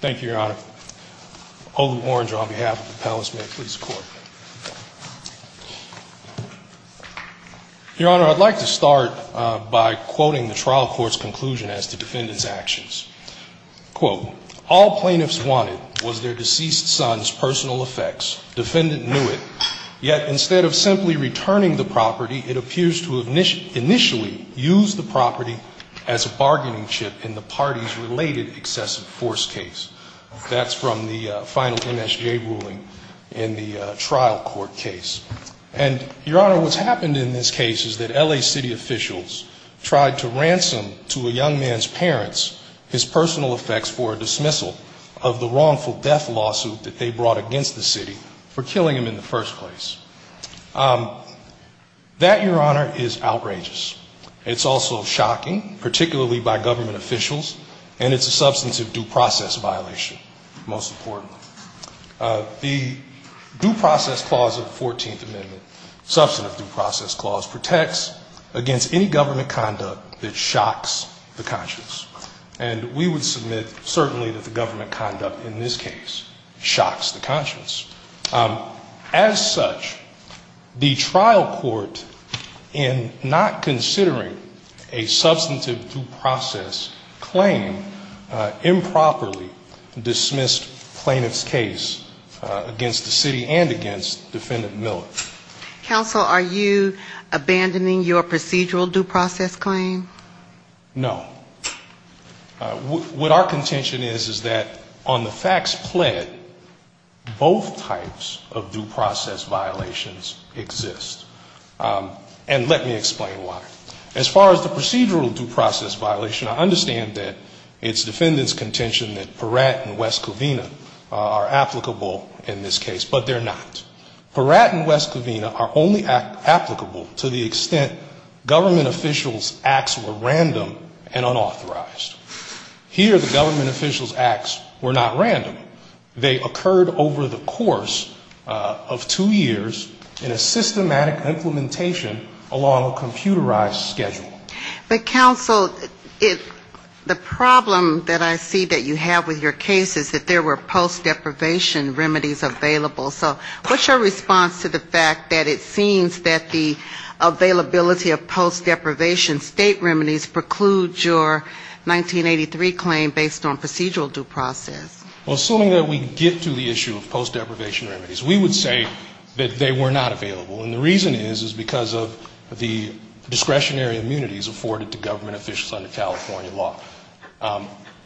Thank you, Your Honor. Olu Orange on behalf of the Palace, may it please the Court. Your Honor, I'd like to start by quoting the trial court's conclusion as to defendant's actions. Quote, all plaintiffs wanted was their deceased son's personal effects. Defendant knew it, yet instead of simply returning the property, it appears to have initially used the property as a bargaining chip in the party's related excessive force case. That's from the final MSJ ruling in the trial court case. And, Your Honor, what's happened in this case is that L.A. City officials tried to ransom to a young man's parents his personal effects for a dismissal of the wrongful death lawsuit that they brought against the city for killing him in the first place. That, Your Honor, is outrageous. It's also shocking, particularly by government officials, and it's a substantive due process violation, most importantly. The Due Process Clause of the 14th Amendment, substantive due process clause, protects against any government conduct that shocks the conscience. And we would submit certainly that the government conduct in this case shocks the conscience. As such, the trial court, in not considering a substantive due process claim, improperly dismissed plaintiff's case against the city and against defendant Miller. Counsel, are you abandoning your procedural due process claim? No. What our contention is, is that on the facts pled, both types of due process violations exist. And let me explain why. As far as the procedural due process violation, I understand that it's defendant's contention that Peratt and West Covina are applicable in this case, but they're not. Peratt and West Covina are only applicable to the extent government officials' acts were random and unauthorized. Here the government officials' acts were not random. They occurred over the course of two years in a systematic implementation along a computerized schedule. But, counsel, the problem that I see that you have with your case is that there were post deprivation remedies available. So what's your response to the fact that it seems that the availability of post deprivation state remedies precludes your 1983 claim based on procedural due process? Well, assuming that we get to the issue of post deprivation remedies, we would say that they were not available. And the reason is, is because of the discretionary immunities afforded to government officials under California law.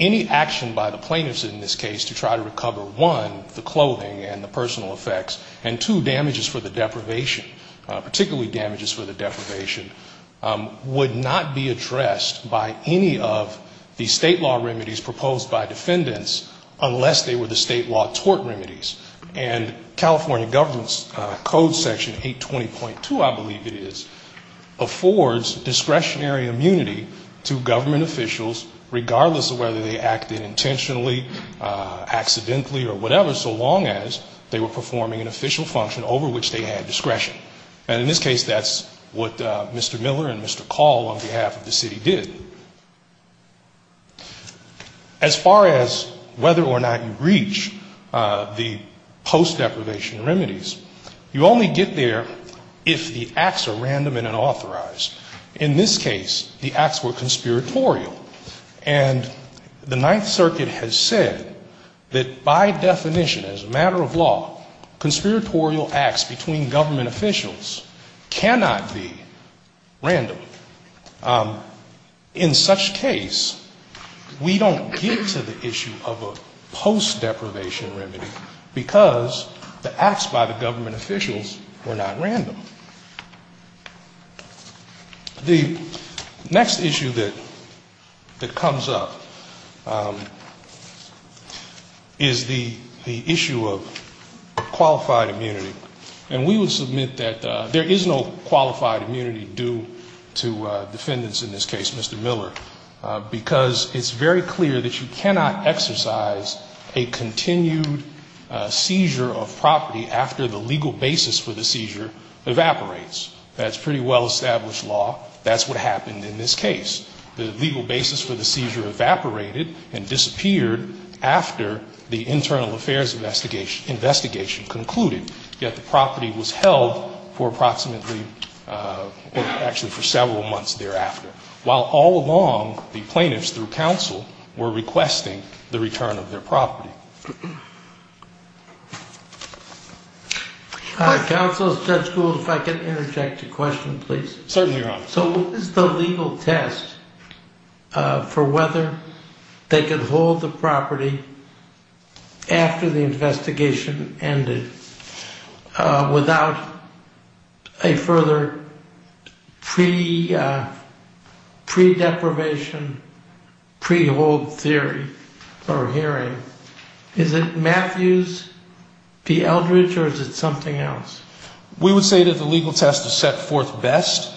Any action by the plaintiffs in this case to try to recover, one, the clothing and the personal effects, and, two, damages for the deprivation, particularly damages for the deprivation, would not be addressed by any of the state law remedies proposed by defendants unless they were the state law tort remedies. And California government's code section 820.2, I believe it is, affords discretionary immunity to government officials, regardless of whether they acted intentionally, accidentally or whatever, so long as they were performing an official duty. An official function over which they had discretion. And in this case, that's what Mr. Miller and Mr. Call on behalf of the city did. As far as whether or not you reach the post deprivation remedies, you only get there if the acts are random and unauthorized. In this case, the acts were conspiratorial. And the Ninth Circuit has said that by definition, as a matter of law, conspiratorial acts between government officials cannot be random. In such case, we don't get to the issue of a post deprivation remedy, because the acts by the government officials were not random. The next issue that comes up is the issue of unauthorized deprivation of property. And I'm going to talk a little bit about that. Qualified immunity. And we will submit that there is no qualified immunity due to defendants in this case, Mr. Miller, because it's very clear that you cannot exercise a continued seizure of property after the legal basis for the seizure evaporates. That's pretty well-established law. That's what happened in this case. The legal basis for the seizure evaporated and disappeared after the internal affairs investigation concluded, yet the property was held for approximately or actually for several months thereafter, while all along the plaintiffs through counsel were requesting the return of their property. Counsel, Judge Gould, if I could interject a question, please. Certainly, Your Honor. So what is the legal test for whether they could hold the property after the investigation ended without a further pre-deprivation, pre-hold theory or hearing? Is it Matthews v. Eldridge or is it something else? We would say that the legal test is set forth best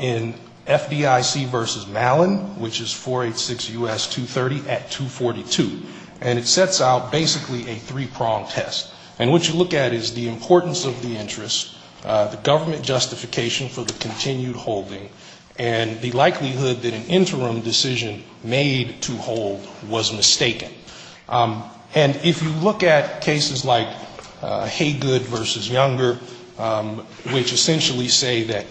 in FDIC v. Malin, which is 486 U.S. 230 at 242. And it sets out basically a three-pronged test. And what you look at is the importance of the interest, the government justification for the continued holding, and the likelihood that an interim decision made to hold was mistaken. And if you look at cases like Haygood v. Younger, which essentially say that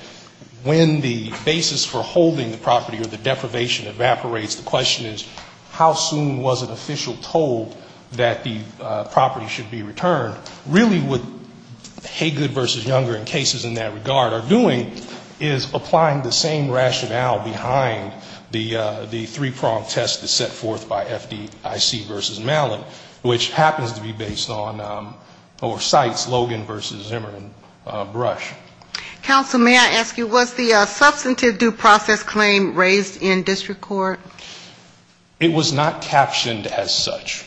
when the basis for holding the property or the deprivation evaporates, the question is how soon was an official told that the property should be returned, really what Haygood v. Younger and cases in that regard are doing is applying the same rationale behind the three-pronged test that's set forth by FDIC v. Malin, which happens to be based on or cites Logan v. Emerson. Brush. Counsel, may I ask you, was the substantive due process claim raised in district court? It was not captioned as such.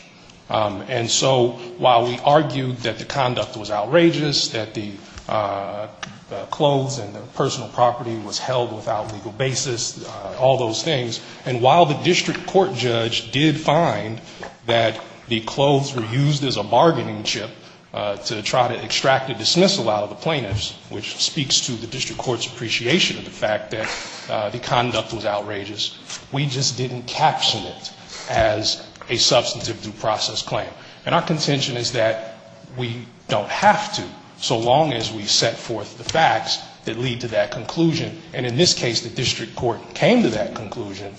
And so while we argued that the conduct was outrageous, that the clothes and the personal property was held without legal basis, all those things, and while the district court judge did find that the clothes were used as a bargaining chip to try to dismiss a lot of the plaintiffs, which speaks to the district court's appreciation of the fact that the conduct was outrageous, we just didn't caption it as a substantive due process claim. And our contention is that we don't have to, so long as we set forth the facts that lead to that conclusion. And in this case, the district court came to that conclusion,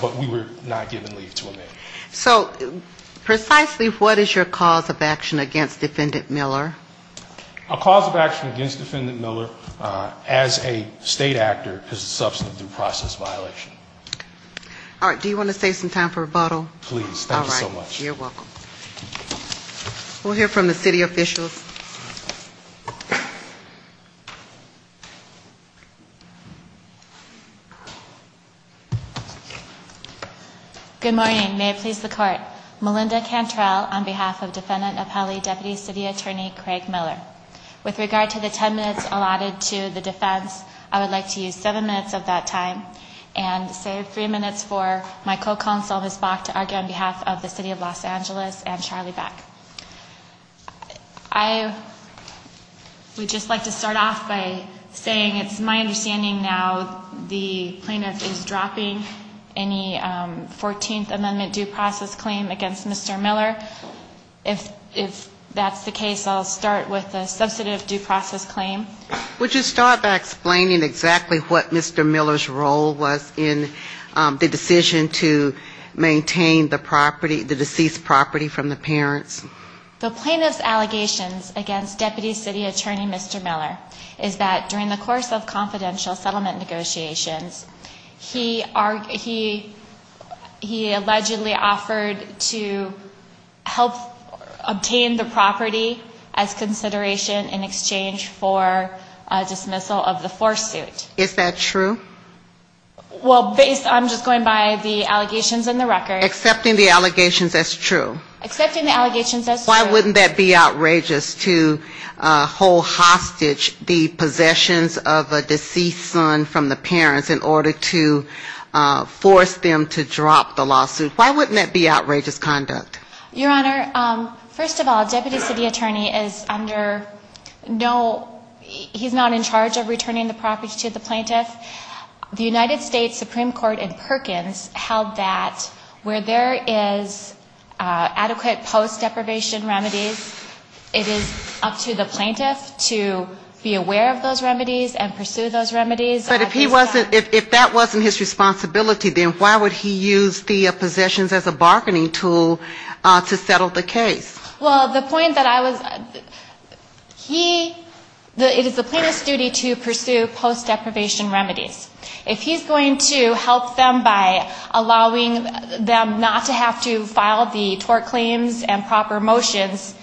but we were not given leave to amend it. So precisely what is your cause of action against Defendant Miller? A cause of action against Defendant Miller as a state actor is a substantive due process violation. All right. Do you want to save some time for rebuttal? Please. Thank you so much. All right. You're welcome. We'll hear from the city officials. I hereby please the court. Melinda Cantrell on behalf of Defendant Apelli, Deputy City Attorney Craig Miller. With regard to the 10 minutes allotted to the defense, I would like to use seven minutes of that time and save three minutes for my co-counsel, Ms. Bach, to argue on behalf of the City of Los Angeles and Charlie Bach. I would just like to start off by saying it's my understanding now the plaintiff is dropping any 14th Amendment due process. Claim against Mr. Miller. If that's the case, I'll start with the substantive due process claim. Would you start by explaining exactly what Mr. Miller's role was in the decision to maintain the property, the deceased property from the parents? The plaintiff's allegations against Deputy City Attorney Mr. Miller is that during the course of confidential settlement negotiations, he allegedly offered to help obtain the property as consideration in exchange for dismissal of the force suit. Is that true? Well, based, I'm just going by the allegations in the record. Accepting the allegations as true. Why wouldn't that be outrageous to hold hostage the possessions of a deceased son from the parents in order to force them to drop the lawsuit? Why wouldn't that be outrageous conduct? Your Honor, first of all, Deputy City Attorney is under no, he's not in charge of returning the property to the plaintiff. The United States Supreme Court in Perkins held that where there is a claim against Mr. Miller, there is a claim against Mr. Miller. If there are adequate post-deprivation remedies, it is up to the plaintiff to be aware of those remedies and pursue those remedies. But if he wasn't, if that wasn't his responsibility, then why would he use the possessions as a bargaining tool to settle the case? Well, the point that I was, he, it is the plaintiff's duty to pursue post-deprivation remedies. If he's going to help them by allowing them not to have to file the tort claims and proper motions,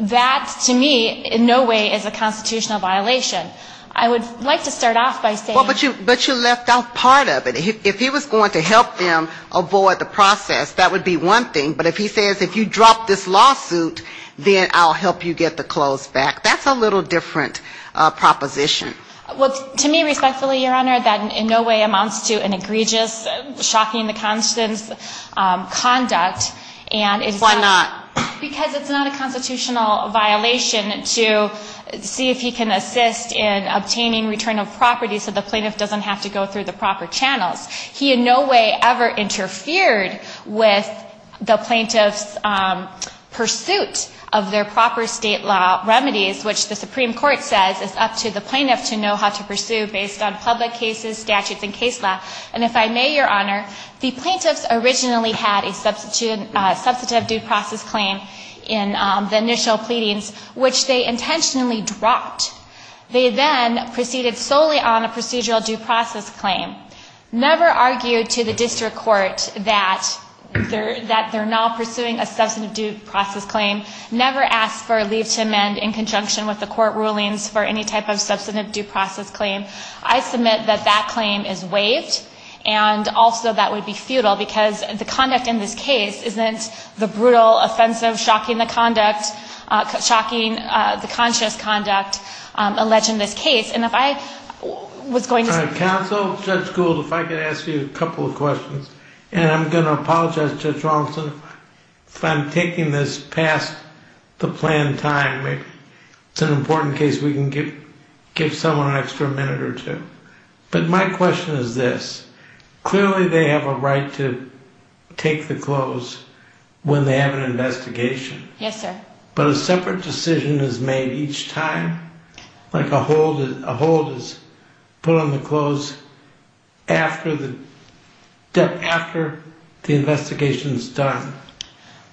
that, to me, in no way is a constitutional violation. I would like to start off by saying... But you left out part of it. If he was going to help them avoid the process, that would be one thing. But if he says if you drop this lawsuit, then I'll help you get the clothes back, that's a little different proposition. Well, to me, respectfully, Your Honor, that in no way amounts to an egregious, shocking-in-the-constance conduct. Why not? Because it's not a constitutional violation to see if he can assist in obtaining return of property so the plaintiff doesn't have to go through the proper channels. He in no way ever interfered with the plaintiff's pursuit of their proper state law remedies, which the Supreme Court says is up to the plaintiff to do. It's up to the plaintiff to know how to pursue based on public cases, statutes, and case law. And if I may, Your Honor, the plaintiffs originally had a substantive due process claim in the initial pleadings, which they intentionally dropped. They then proceeded solely on a procedural due process claim, never argued to the district court that they're now pursuing a substantive due process claim, never asked for a leave to amend in conjunction with the court rulings for any type of substantive due process claim. I submit that that claim is waived, and also that would be futile because the conduct in this case isn't the brutal, offensive, shocking-in-the-conscious conduct alleged in this case. And if I was going to... And also, Judge Gould, if I could ask you a couple of questions. And I'm going to apologize, Judge Rawlinson, if I'm taking this past the planned time. It's an important case we can give someone an extra minute or two. But my question is this. Clearly they have a right to take the clothes when they have an investigation. Yes, sir. But a separate decision is made each time, like a hold is put on the clothes after the investigation is done.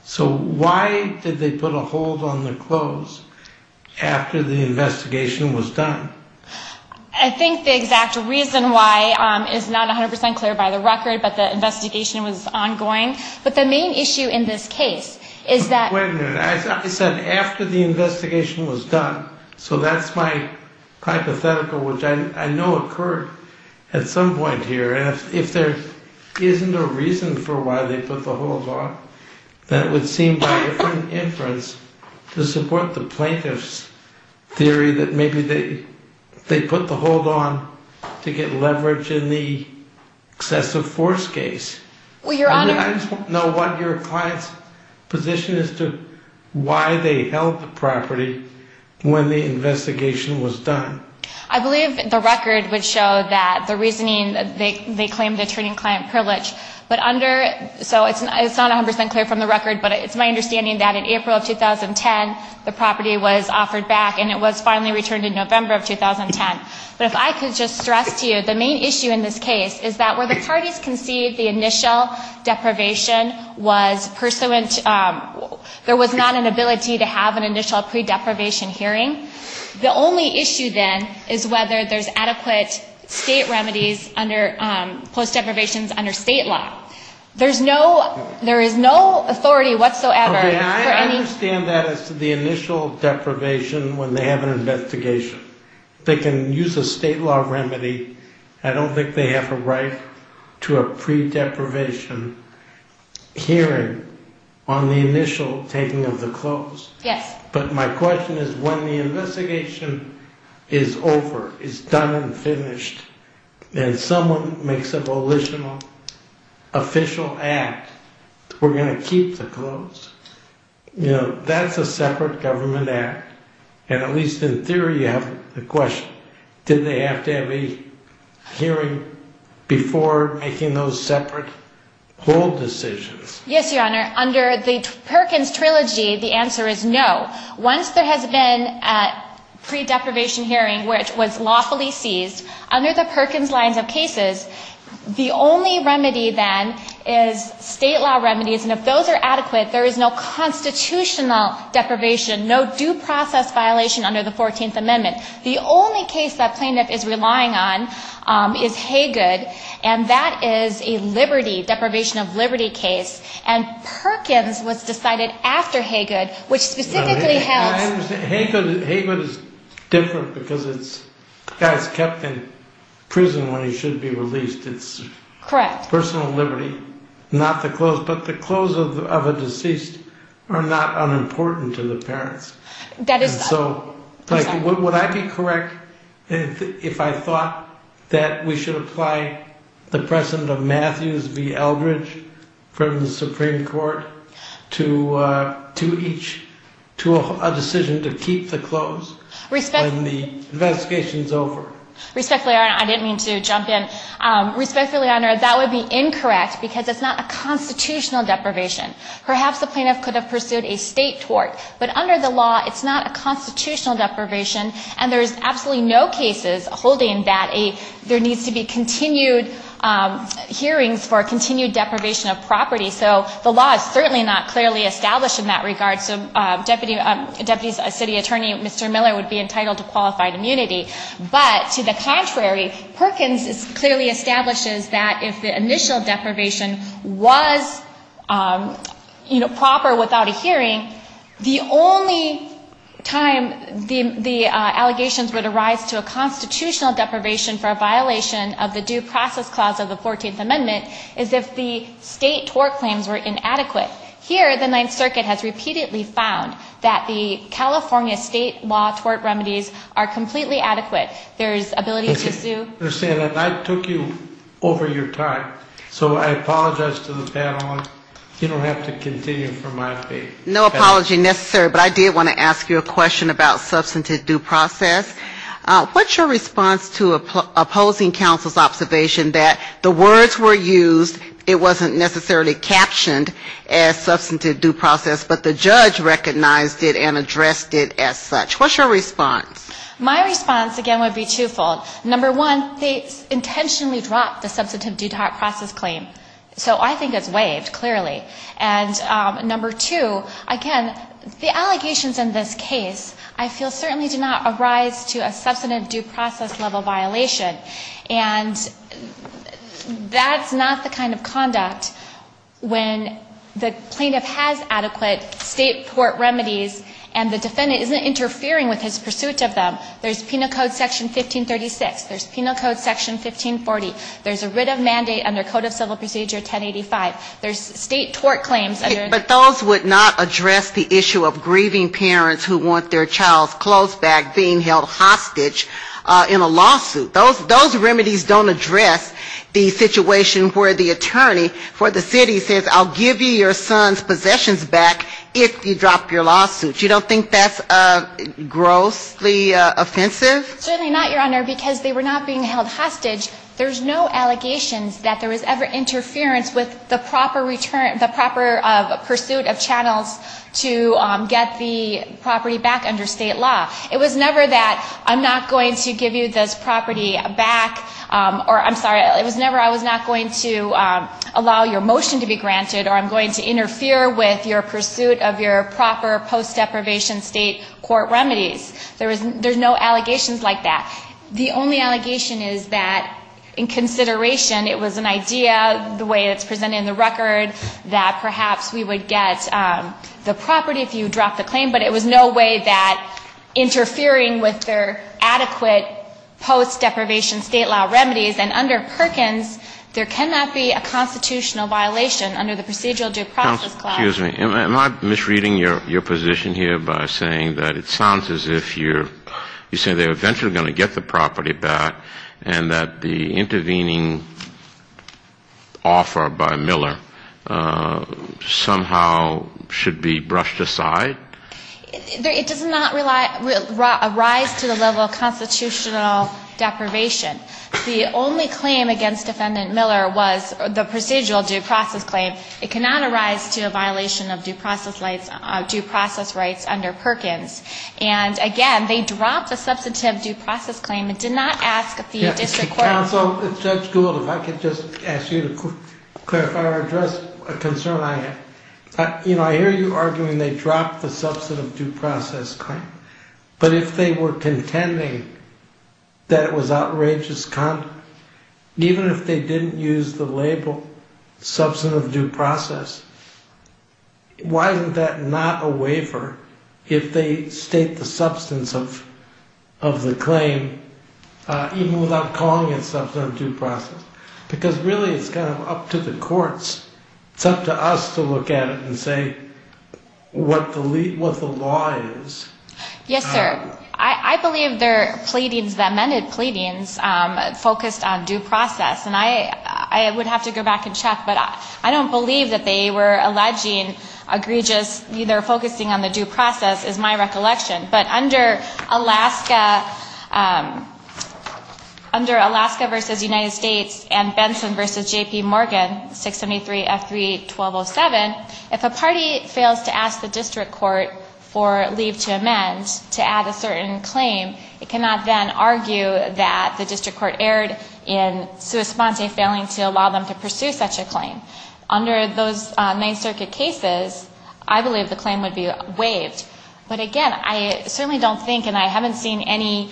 So why did they put a hold on the clothes after the investigation was done? I think the exact reason why is not 100 percent clear by the record, but the investigation was ongoing. But the main issue in this case is that... Wait a minute. I said after the investigation was done. So that's my hypothetical, which I know occurred at some point here. And if there isn't a reason for why they put the hold on, that would seem by different inference to support the plaintiff's theory that maybe they put the hold on to get leverage in the excessive force case. I just want to know what your client's position is to why they held the property when the investigation was done. I believe the record would show that the reasoning, they claimed attorney and client privilege. So it's not 100 percent clear from the record, but it's my understanding that in April of 2010, the property was offered back and it was finally returned in November of 2010. But if I could just stress to you, the main issue in this case is that where the parties conceived the initial deprivation was pursuant, there was not an ability to have an initial pre-deprivation hearing. The only issue then is whether there's adequate state remedies under post-deprivations under state law. There is no authority whatsoever for any... They can use a state law remedy. I don't think they have a right to a pre-deprivation hearing on the initial taking of the clothes. But my question is when the investigation is over, is done and finished, and someone makes a volitional official act, we're going to keep the clothes? That's a separate government act, and at least in theory you have the question, did they have to have a hearing before making those separate whole decisions? Yes, Your Honor, under the Perkins Trilogy, the answer is no. Once there has been a pre-deprivation hearing, which was lawfully seized, under the Perkins lines of cases, the only remedy then is state law remedies. And if those are adequate, there is no constitutional deprivation, no due process violation under the 14th Amendment. The only case that plaintiff is relying on is Haygood, and that is a liberty, deprivation of liberty case. And Perkins was decided after Haygood, which specifically held... Haygood is different because the guy is kept in prison when he should be released. It's personal liberty, not the clothes. But the clothes of a deceased are not unimportant to the parents. Would I be correct if I thought that we should apply the precedent of Matthews v. Eldridge from the Supreme Court to a decision to keep the clothes when the investigation is over? Respectfully, Your Honor, I didn't mean to jump in. Respectfully, Your Honor, that would be incorrect because it's not a constitutional deprivation. Perhaps the plaintiff could have pursued a state tort, but under the law, it's not a constitutional deprivation, and there's absolutely no cases holding that there needs to be continued hearings for continued deprivation of property. So the law is certainly not clearly established in that regard. So Deputy City Attorney Mr. Miller would be entitled to qualified immunity. But to the contrary, Perkins clearly establishes that if the initial deprivation was, you know, proper without a hearing, the only time the allegations would arise to a constitutional deprivation for a violation of the Due Process Clause of the 14th Amendment is if the state tort claims were inadequate. Here, the Ninth Circuit has repeatedly found that the California state law tort remedies are completely adequate. There's ability to sue. I took you over your time, so I apologize to the panel. You don't have to continue from my feet. No apology necessary, but I did want to ask you a question about substantive due process. What's your response to opposing counsel's observation that the words were used, it wasn't necessarily captioned, and it's not a constitutional deprivation? It's not as substantive due process, but the judge recognized it and addressed it as such. What's your response? My response, again, would be twofold. Number one, they intentionally dropped the substantive due process claim. So I think it's waived, clearly. And number two, again, the allegations in this case I feel certainly do not arise to a substantive due process level violation. And that's not the kind of conduct when the plaintiff has adequate state tort remedies and the defendant isn't interfering with his pursuit of them. There's Penal Code Section 1536. There's Penal Code Section 1540. There's a writ of mandate under Code of Civil Procedure 1085. There's state tort claims. But those would not address the issue of grieving parents who want their child's clothes back being held hostage in a lawsuit. So those remedies don't address the situation where the attorney for the city says I'll give you your son's possessions back if you drop your lawsuit. You don't think that's grossly offensive? Certainly not, Your Honor, because they were not being held hostage. There's no allegations that there was ever interference with the proper return the proper pursuit of channels to get the property back under state law. It was never that I'm not going to give you this property back, or I'm sorry, it was never I was not going to allow your motion to be granted, or I'm going to interfere with your pursuit of your proper post-deprivation state court remedies. There's no allegations like that. The only allegation is that in consideration it was an idea, the way it's presented in the record, that perhaps we would get the property if you dropped the claim, but it was no way that interfering with their adequate post-deprivation state law remedies, and under Perkins, there cannot be a constitutional violation under the procedural due process clause. Excuse me. Am I misreading your position here by saying that it sounds as if you're saying they're eventually going to get the property back and that the intervening offer by Miller somehow should be brushed aside? It does not arise to the level of constitutional deprivation. The only claim against Defendant Miller was the procedural due process claim. It cannot arise to a violation of due process rights under Perkins, and again, they dropped the substantive due process claim. It did not ask the district court... Counsel, if Judge Gould, if I could just ask you to clarify or address a concern I have. I'm not sure if it's a concern, but if they were contending that it was outrageous conduct, even if they didn't use the label substantive due process, why isn't that not a waiver if they state the substance of the claim even without calling it substantive due process? Because really it's kind of up to the courts, it's up to us to look at it and say what the law says, what the statute says, what the statute says. Why is that? Yes, sir. I believe their pleadings, the amended pleadings, focused on due process, and I would have to go back and check, but I don't believe that they were alleging egregious, either focusing on the due process is my recollection. But under Alaska versus United States and Benson versus J.P. Morgan, 673 F3 1207, if a party fails to ask the district court for a waiver, or leave to amend, to add a certain claim, it cannot then argue that the district court erred in sua sponte, failing to allow them to pursue such a claim. Under those Ninth Circuit cases, I believe the claim would be waived. But again, I certainly don't think, and I haven't seen any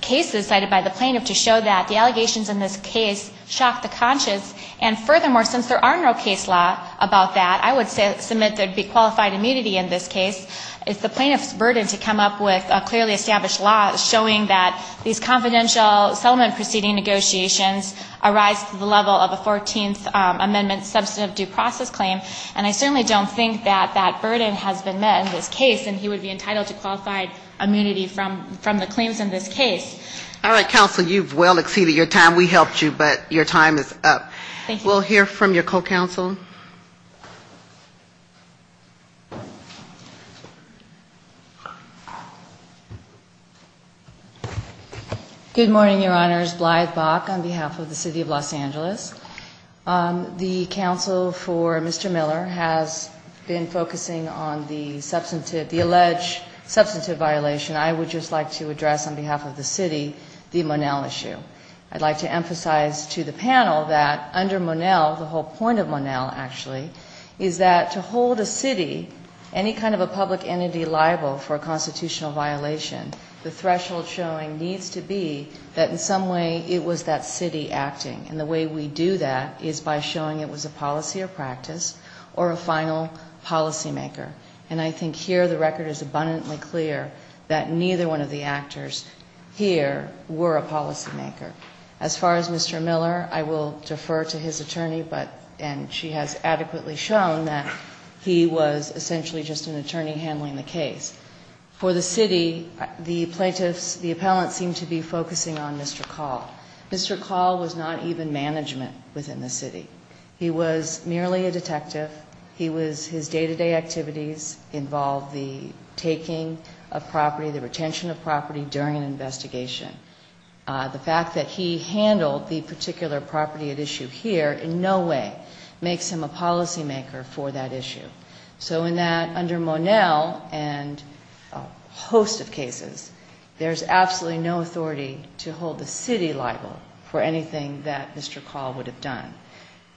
cases cited by the plaintiff to show that the allegations in this case shock the conscious, and furthermore, since there are no case law about that, I would submit there would be qualified immunity in this case. It's the plaintiff's burden to come up with a clearly established law showing that these confidential settlement proceeding negotiations arise to the level of a 14th amendment substantive due process claim, and I certainly don't think that that burden has been met in this case, and he would be entitled to qualified immunity from the claims in this case. All right, counsel, you've well exceeded your time. We helped you, but your time is up. We'll hear from your co-counsel. Thank you. Good morning, Your Honors. Blythe Bock on behalf of the City of Los Angeles. The counsel for Mr. Miller has been focusing on the alleged substantive violation. I would just like to address on behalf of the City the Monell issue. I'd like to emphasize to the panel that under Monell, the whole point of Monell, actually, is that to hold a City, any kind of a public interest in the City of Los Angeles liable for a constitutional violation, the threshold showing needs to be that in some way it was that City acting. And the way we do that is by showing it was a policy or practice or a final policymaker. And I think here the record is abundantly clear that neither one of the actors here were a policymaker. As far as Mr. Miller, I will defer to his attorney, and she has adequately shown that he was essentially just an attorney handling the case. For the City, the plaintiffs, the appellants seem to be focusing on Mr. Call. Mr. Call was not even management within the City. He was merely a detective. He was, his day-to-day activities involved the taking of property, the retention of property during an investigation. The fact that he handled the particular property at issue here in no way makes him a policymaker for that issue. So in that, under Monell and a host of cases, there's absolutely no authority to hold the City liable for anything that Mr. Call would have done.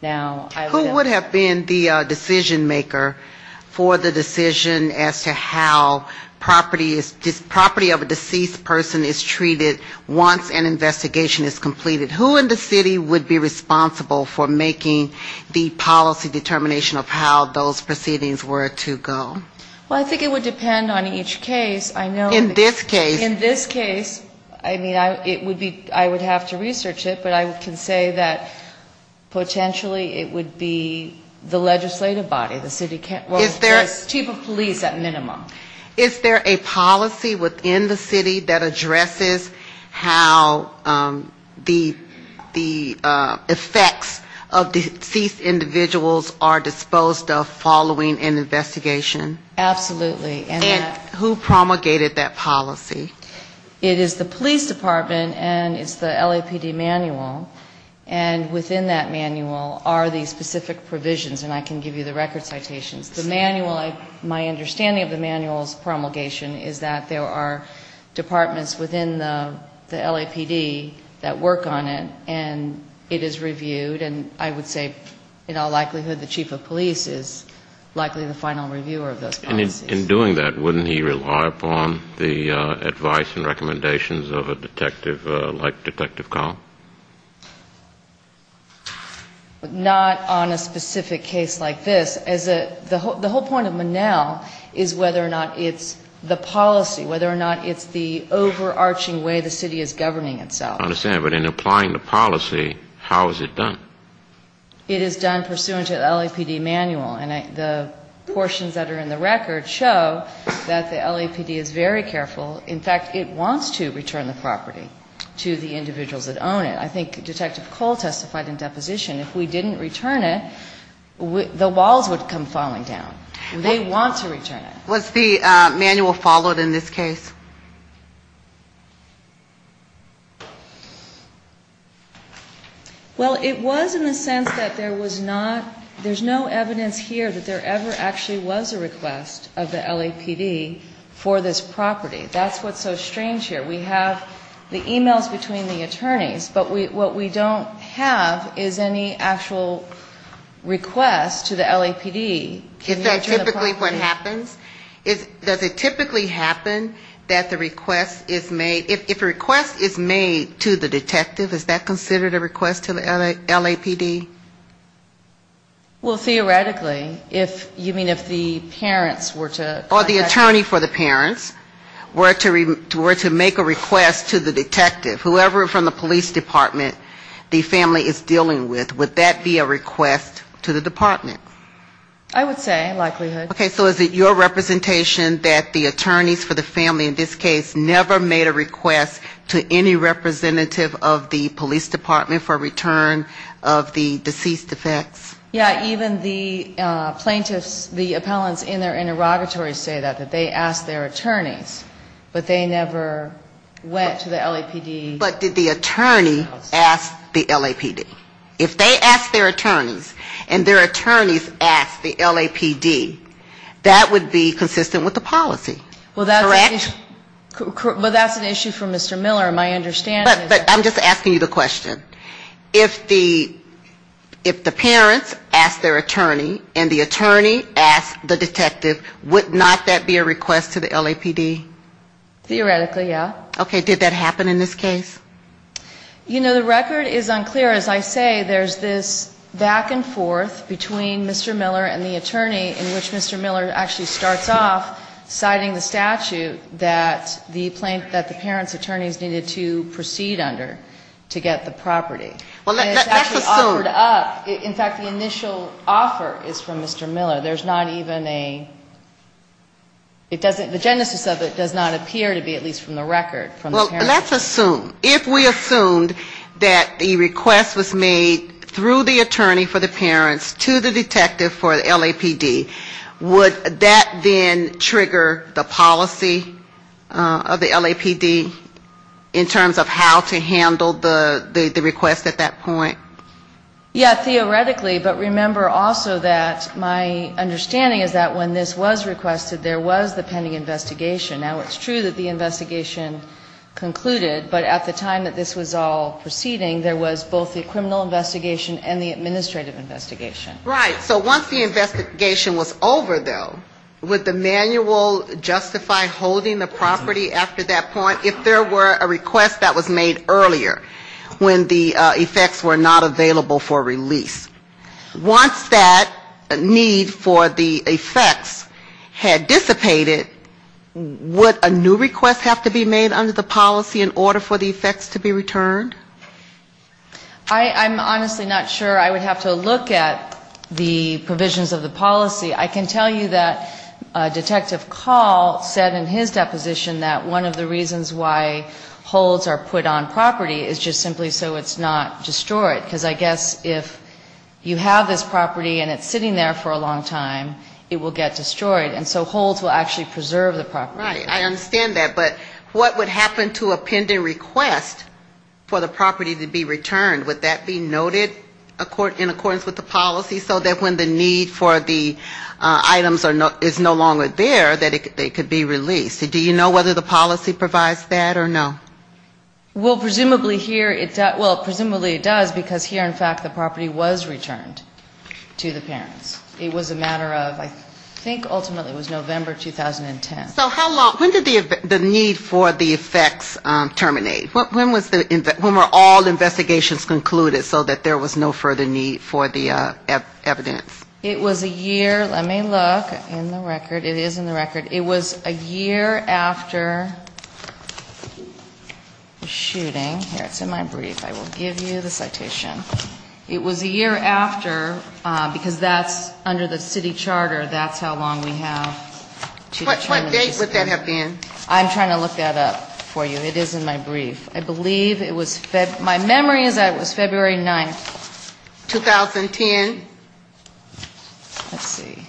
Now, I would ask... Who would have been the decisionmaker for the decision as to how property of a deceased person is treated once an investigation is completed? Who in the City would be responsible for making the policy determination of how those proceedings are handled? How those proceedings were to go? Well, I think it would depend on each case. I know... In this case... In this case, I mean, it would be, I would have to research it, but I can say that potentially it would be the legislative body, the City, well, the chief of police at minimum. Is there a policy within the City that addresses how the effects of deceased individuals are disposed of following an investigation? Absolutely. And who promulgated that policy? It is the police department, and it's the LAPD manual, and within that manual are the specific provisions, and I can give you the record citations. The manual, my understanding of the manual's promulgation is that there are departments within the LAPD that work on it, and it is reviewed. And I would say, in all likelihood, the chief of police is likely the final reviewer of those policies. And in doing that, wouldn't he rely upon the advice and recommendations of a detective like Detective Kahn? Not on a specific case like this. The whole point of Monell is whether or not it's the policy, whether or not it's the overarching way the City is governing itself. I understand, but in applying the policy, how is it done? It is done pursuant to the LAPD manual, and the portions that are in the record show that the LAPD is very careful. In fact, it wants to return the property to the individuals that own it. I think Detective Cole testified in deposition, if we didn't return it, the walls would come falling down. They want to return it. Was the manual followed in this case? Well, it was in the sense that there was not, there's no evidence here that there ever actually was a request of the LAPD for this property. That's what's so strange here. We have the e-mails between the attorneys, but what we don't have is any actual request to the LAPD. Is that typically what happens? Does it typically happen that the request is made, if a request is made to the detective, is that considered a request to the LAPD? Well, theoretically, if you mean if the parents were to... Or the attorney for the parents were to make a request to the detective, whoever from the police department the family is dealing with, would that be a request to the department? I would say, likelihood. Okay. So is it your representation that the attorneys for the family in this case never made a request to any representative of the police department for return of the deceased effects? Yeah. Even the plaintiffs, the appellants in their interrogatories say that, that they asked their attorneys, but they never went to the LAPD. But did the attorney ask the LAPD? If they asked their attorneys, and their attorneys asked the LAPD, would that be a request to the family? If they asked the LAPD, that would be consistent with the policy. Correct? Well, that's an issue for Mr. Miller. My understanding is... But I'm just asking you the question. If the parents asked their attorney, and the attorney asked the detective, would not that be a request to the LAPD? Theoretically, yeah. Okay. Did that happen in this case? You know, the record is unclear. As I say, there's this back-and-forth between Mr. Miller and the attorney, in which Mr. Miller actually starts off citing the statute that the parents' attorneys needed to proceed under to get the property. Well, let's assume... And it's actually offered up. In fact, the initial offer is from Mr. Miller. There's not even a... The genesis of it does not appear to be, at least from the record, from the parents. Well, let's assume, if we assumed that the request was made through the attorney for the parents to the detective for the LAPD, would that then trigger the policy of the LAPD in terms of how to handle the request at that point? Yeah, theoretically. But remember also that my understanding is that when this was requested, there was the pending investigation. Now, it's true that the investigation concluded, but at the time that this was all proceeding, there was both the criminal investigation and the administrative investigation. Right. So once the investigation was over, though, would the manual justify holding the property after that point, if there were a request that was made earlier, when the effects were not available for release? Would a new request have to be made under the policy in order for the effects to be returned? I'm honestly not sure. I would have to look at the provisions of the policy. I can tell you that Detective Call said in his deposition that one of the reasons why holds are put on property is just simply so it's not destroyed, because I guess if you have this property and it's sitting there for a long time, it will get destroyed. And so holds will actually preserve the property. I understand that. But what would happen to a pending request for the property to be returned? Would that be noted in accordance with the policy so that when the need for the items is no longer there, that it could be released? Do you know whether the policy provides that or no? Well, presumably here, well, presumably it does, because here, in fact, the property was returned to the parents. It was a matter of, I think ultimately it was November 2010. So how long, when did the need for the effects terminate? When were all investigations concluded so that there was no further need for the evidence? It was a year, let me look in the record. It is in the record. It was a year after the shooting. Here, it's in my brief. I will give you the citation. It was a year after, because that's under the city charter, that's how long we have. What date would that have been? I'm trying to look that up for you. It is in my brief. I believe it was February, my memory is that it was February 9th, 2010. Let's see.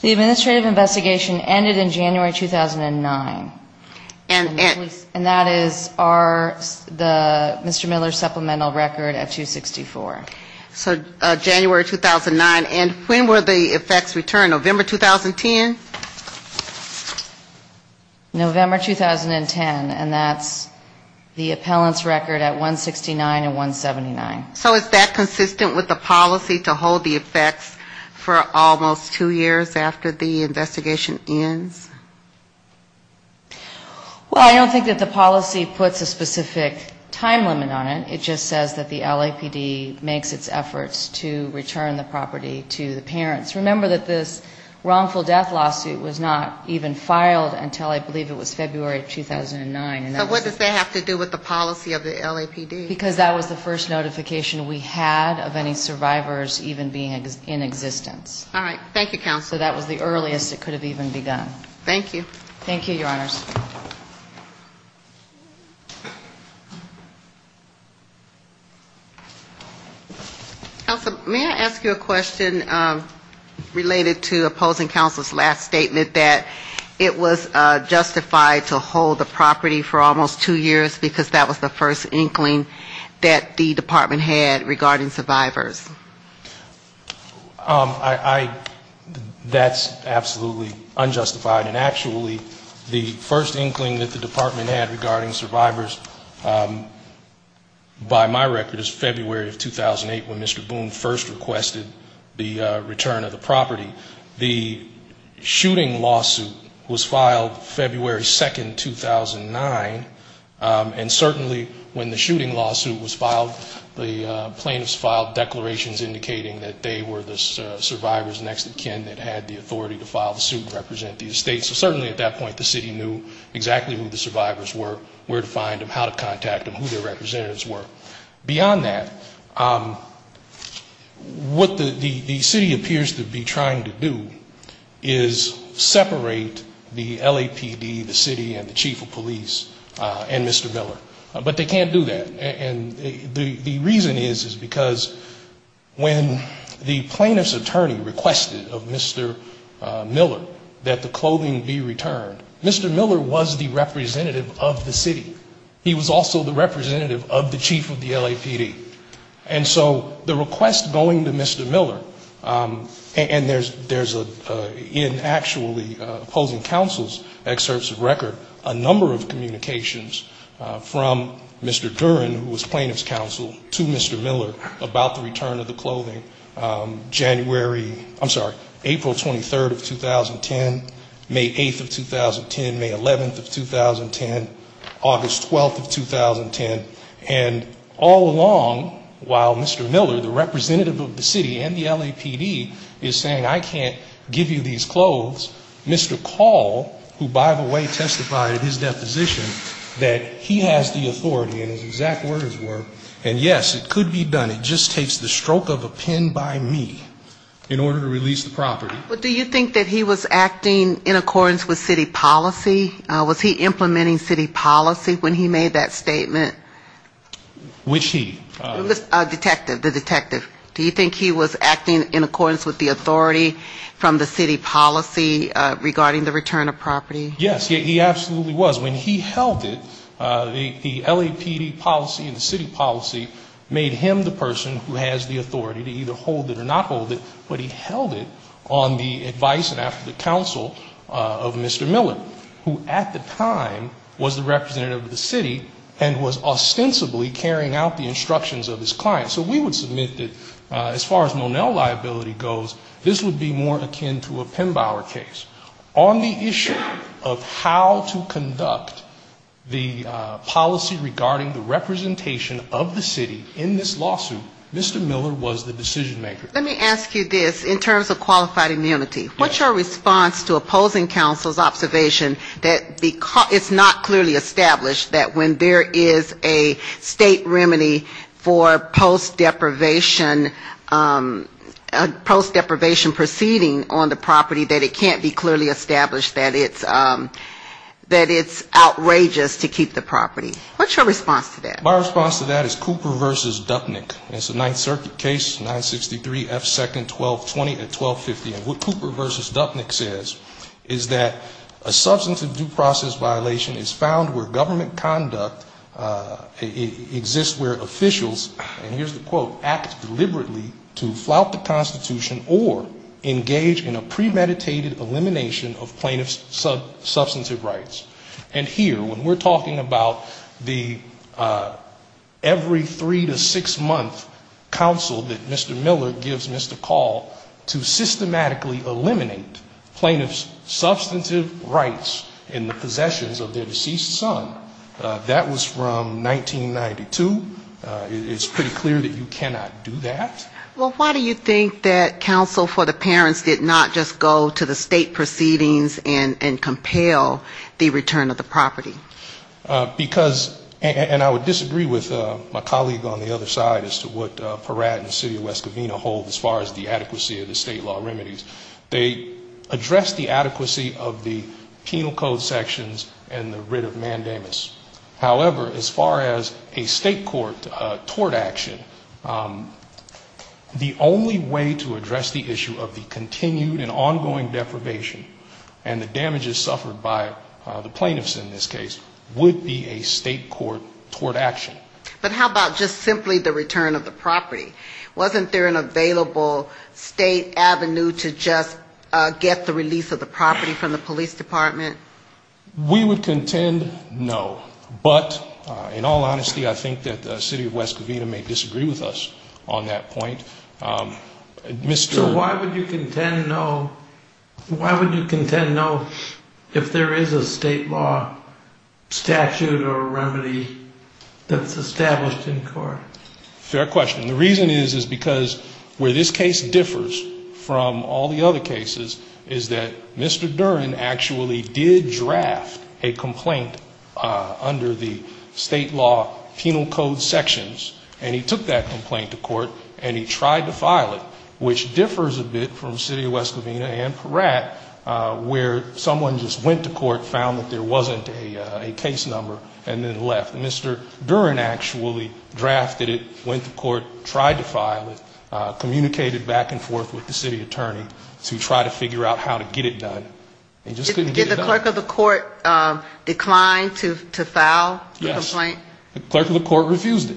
The administrative investigation ended in January 2009, and that is our, Mr. Miller's supplemental record at 264. So January 2009, and when were the effects returned, November 2010? November 2010, and that's the appellant's record at 169 and 179. So is that consistent with the policy to hold the effects for almost two years after the investigation ends? Well, I don't think that the policy puts a specific time limit on it. It just says that the LAPD makes a specific time limit on it. And it makes its efforts to return the property to the parents. Remember that this wrongful death lawsuit was not even filed until I believe it was February 2009. So what does that have to do with the policy of the LAPD? Because that was the first notification we had of any survivors even being in existence. All right. Thank you, counsel. So that was the earliest it could have even begun. Thank you. Thank you, Your Honors. Counsel, may I ask you a question related to opposing counsel's last statement that it was justified to hold the property for almost two years, because that was the first inkling that the department had regarding survivors? I, that's absolutely unjustified. And actually, the first inkling that the department had regarding survivors, by my record, is February of 2008, when Mr. Boone first requested the return of the property. The shooting lawsuit was filed February 2, 2009. And certainly, when the shooting lawsuit was filed, the plaintiffs filed declarations indicating that they were the survivors next of kin that had the authority to file the suit and represent the estate. So certainly at that point, the city knew exactly who the survivors were, where to find them, how to contact them, who their representatives were. Beyond that, what the city appears to be trying to do is separate the LAPD, the city, and the chief of police. And Mr. Miller. But they can't do that. And the reason is, is because when the plaintiff's attorney requested of Mr. Miller that the clothing be returned, Mr. Miller was the representative of the city. He was also the representative of the chief of the LAPD. And so the request going to Mr. Miller, and there's a, in actually opposing counsel's excerpts of record, a number of communications from Mr. Duren, who was plaintiff's counsel, to Mr. Miller about the return of the clothing, January, I'm sorry, April 23, 2010, May 8, 2010, May 11, 2010, August 12, 2010. And all along, while Mr. Miller, the representative of the city and the LAPD, is saying I can't give you these clothes, Mr. Call, who by the way testified at his deposition, that he has the authority, and his exact words were, and yes, it could be done, it just takes the stroke of a pen by me, in order to release the property. But do you think that he was acting in accordance with city policy? Was he implementing city policy when he made that statement? Which he? The detective. The detective. Do you think he was acting in accordance with the authority from the city policy regarding the return of property? Yes, he absolutely was. When he held it, the LAPD policy and the city policy made him the person who has the authority to either hold it or not hold it. But he held it on the advice and after the counsel of Mr. Miller, who at the time was the representative of the city, and was ostensibly against the return of the property. He was ostensibly carrying out the instructions of his client. So we would submit that as far as Monell liability goes, this would be more akin to a Pembauer case. On the issue of how to conduct the policy regarding the representation of the city in this lawsuit, Mr. Miller was the decision maker. Let me ask you this, in terms of qualified immunity, what's your response to opposing counsel's observation that it's not clearly established that when there is a, a state remedy for post-deprivation proceeding on the property that it can't be clearly established that it's outrageous to keep the property? What's your response to that? My response to that is Cooper v. Dupnick. It's a Ninth Circuit case, 963 F. 2nd, 1220 at 1250. And what Cooper v. Dupnick says is that a substantive due process violation is found where government conduct exists where officials, and here's the quote, act deliberately to flout the Constitution or engage in a premeditated elimination of plaintiff's substantive rights. And here, when we're talking about the every three to six-month counsel that Mr. Miller gives Mr. Call to systematically eliminate plaintiff's possessions of their deceased son, that was from 1992. It's pretty clear that you cannot do that. Well, why do you think that counsel for the parents did not just go to the state proceedings and compel the return of the property? Because, and I would disagree with my colleague on the other side as to what Peratt and the city of West Covina hold as far as the adequacy of the state law in terms of the removal of plaintiff's possessions and the writ of mandamus. However, as far as a state court tort action, the only way to address the issue of the continued and ongoing deprivation and the damages suffered by the plaintiffs in this case would be a state court tort action. But how about just simply the return of the property? Wasn't there an available state avenue to just get the release of the property from the police department? We would contend no. But, in all honesty, I think that the city of West Covina may disagree with us on that point. So why would you contend no? Why would you contend no if there is a state law statute or remedy that's established in court? Fair question. The reason is, is because where this case differs from all the other cases is that Mr. Duren actually did not go to the state court. Mr. Duren actually did draft a complaint under the state law penal code sections, and he took that complaint to court, and he tried to file it, which differs a bit from the city of West Covina and Peratt, where someone just went to court, found that there wasn't a case number, and then left. Mr. Duren actually drafted it, went to court, tried to file it, communicated back and forth with the city attorney to try to figure out how to get it done, and just couldn't get it done. Did the clerk of the court decline to file the complaint? Yes. The clerk of the court refused it,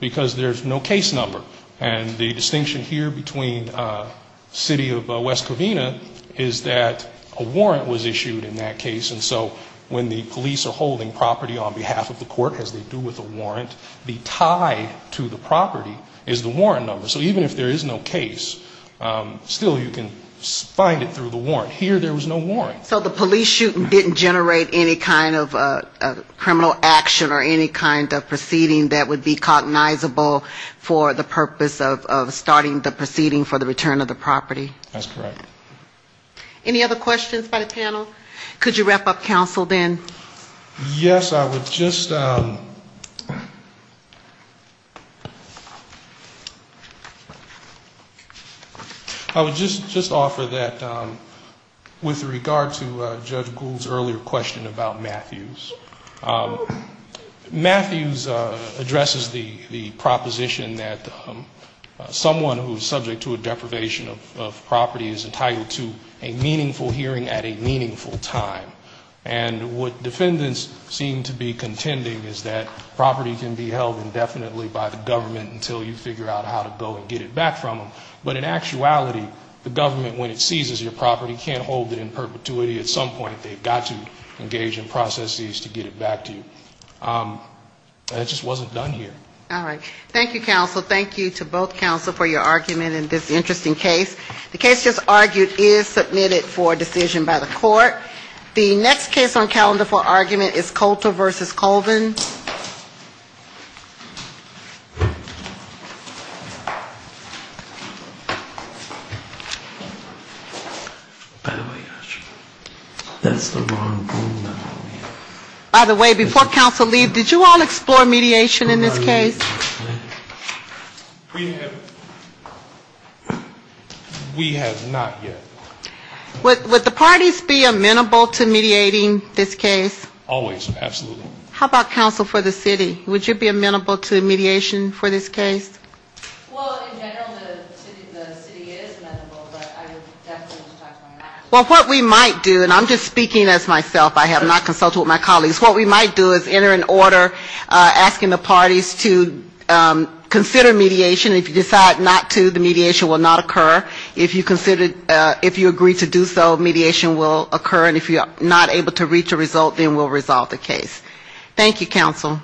because there's no case number. And the distinction here between the city of West Covina is that a warrant was issued in that case, and so when the police are holding property on behalf of the court, as they do with a warrant, the tie to the property is the warrant number. So even if there is no case, still you can still file a complaint. So the police shooting didn't generate any kind of criminal action or any kind of proceeding that would be cognizable for the purpose of starting the proceeding for the return of the property? That's correct. Any other questions by the panel? Could you wrap up, counsel, then? Yes, I would just offer that with regard to Judge Gould's earlier question about Matthews. Matthews addresses the proposition that someone who is subject to a deprivation of property is entitled to a meaningful hearing at a meaningful time, and would not be held indefinitely by the government until you figure out how to go and get it back from them. But in actuality, the government, when it seizes your property, can't hold it in perpetuity. At some point they've got to engage in processes to get it back to you. And it just wasn't done here. All right. Thank you, counsel. Thank you to both counsel for your argument in this interesting case. The case just argued is Coulter v. Colvin. By the way, before counsel leaves, did you all explore mediation in this case? We have not yet. Would the parties be amenable to mediating this case? Always, absolutely. How about counsel for the city? Would you be amenable to mediation for this case? Well, what we might do, and I'm just speaking as myself. I have not consulted with my colleagues. What we might do is enter in order asking the parties to consider mediation. If you decide not to, the mediation will not occur. If you consider it's not possible, if you agree to do so, mediation will occur. And if you're not able to reach a result, then we'll resolve the case. Thank you, counsel.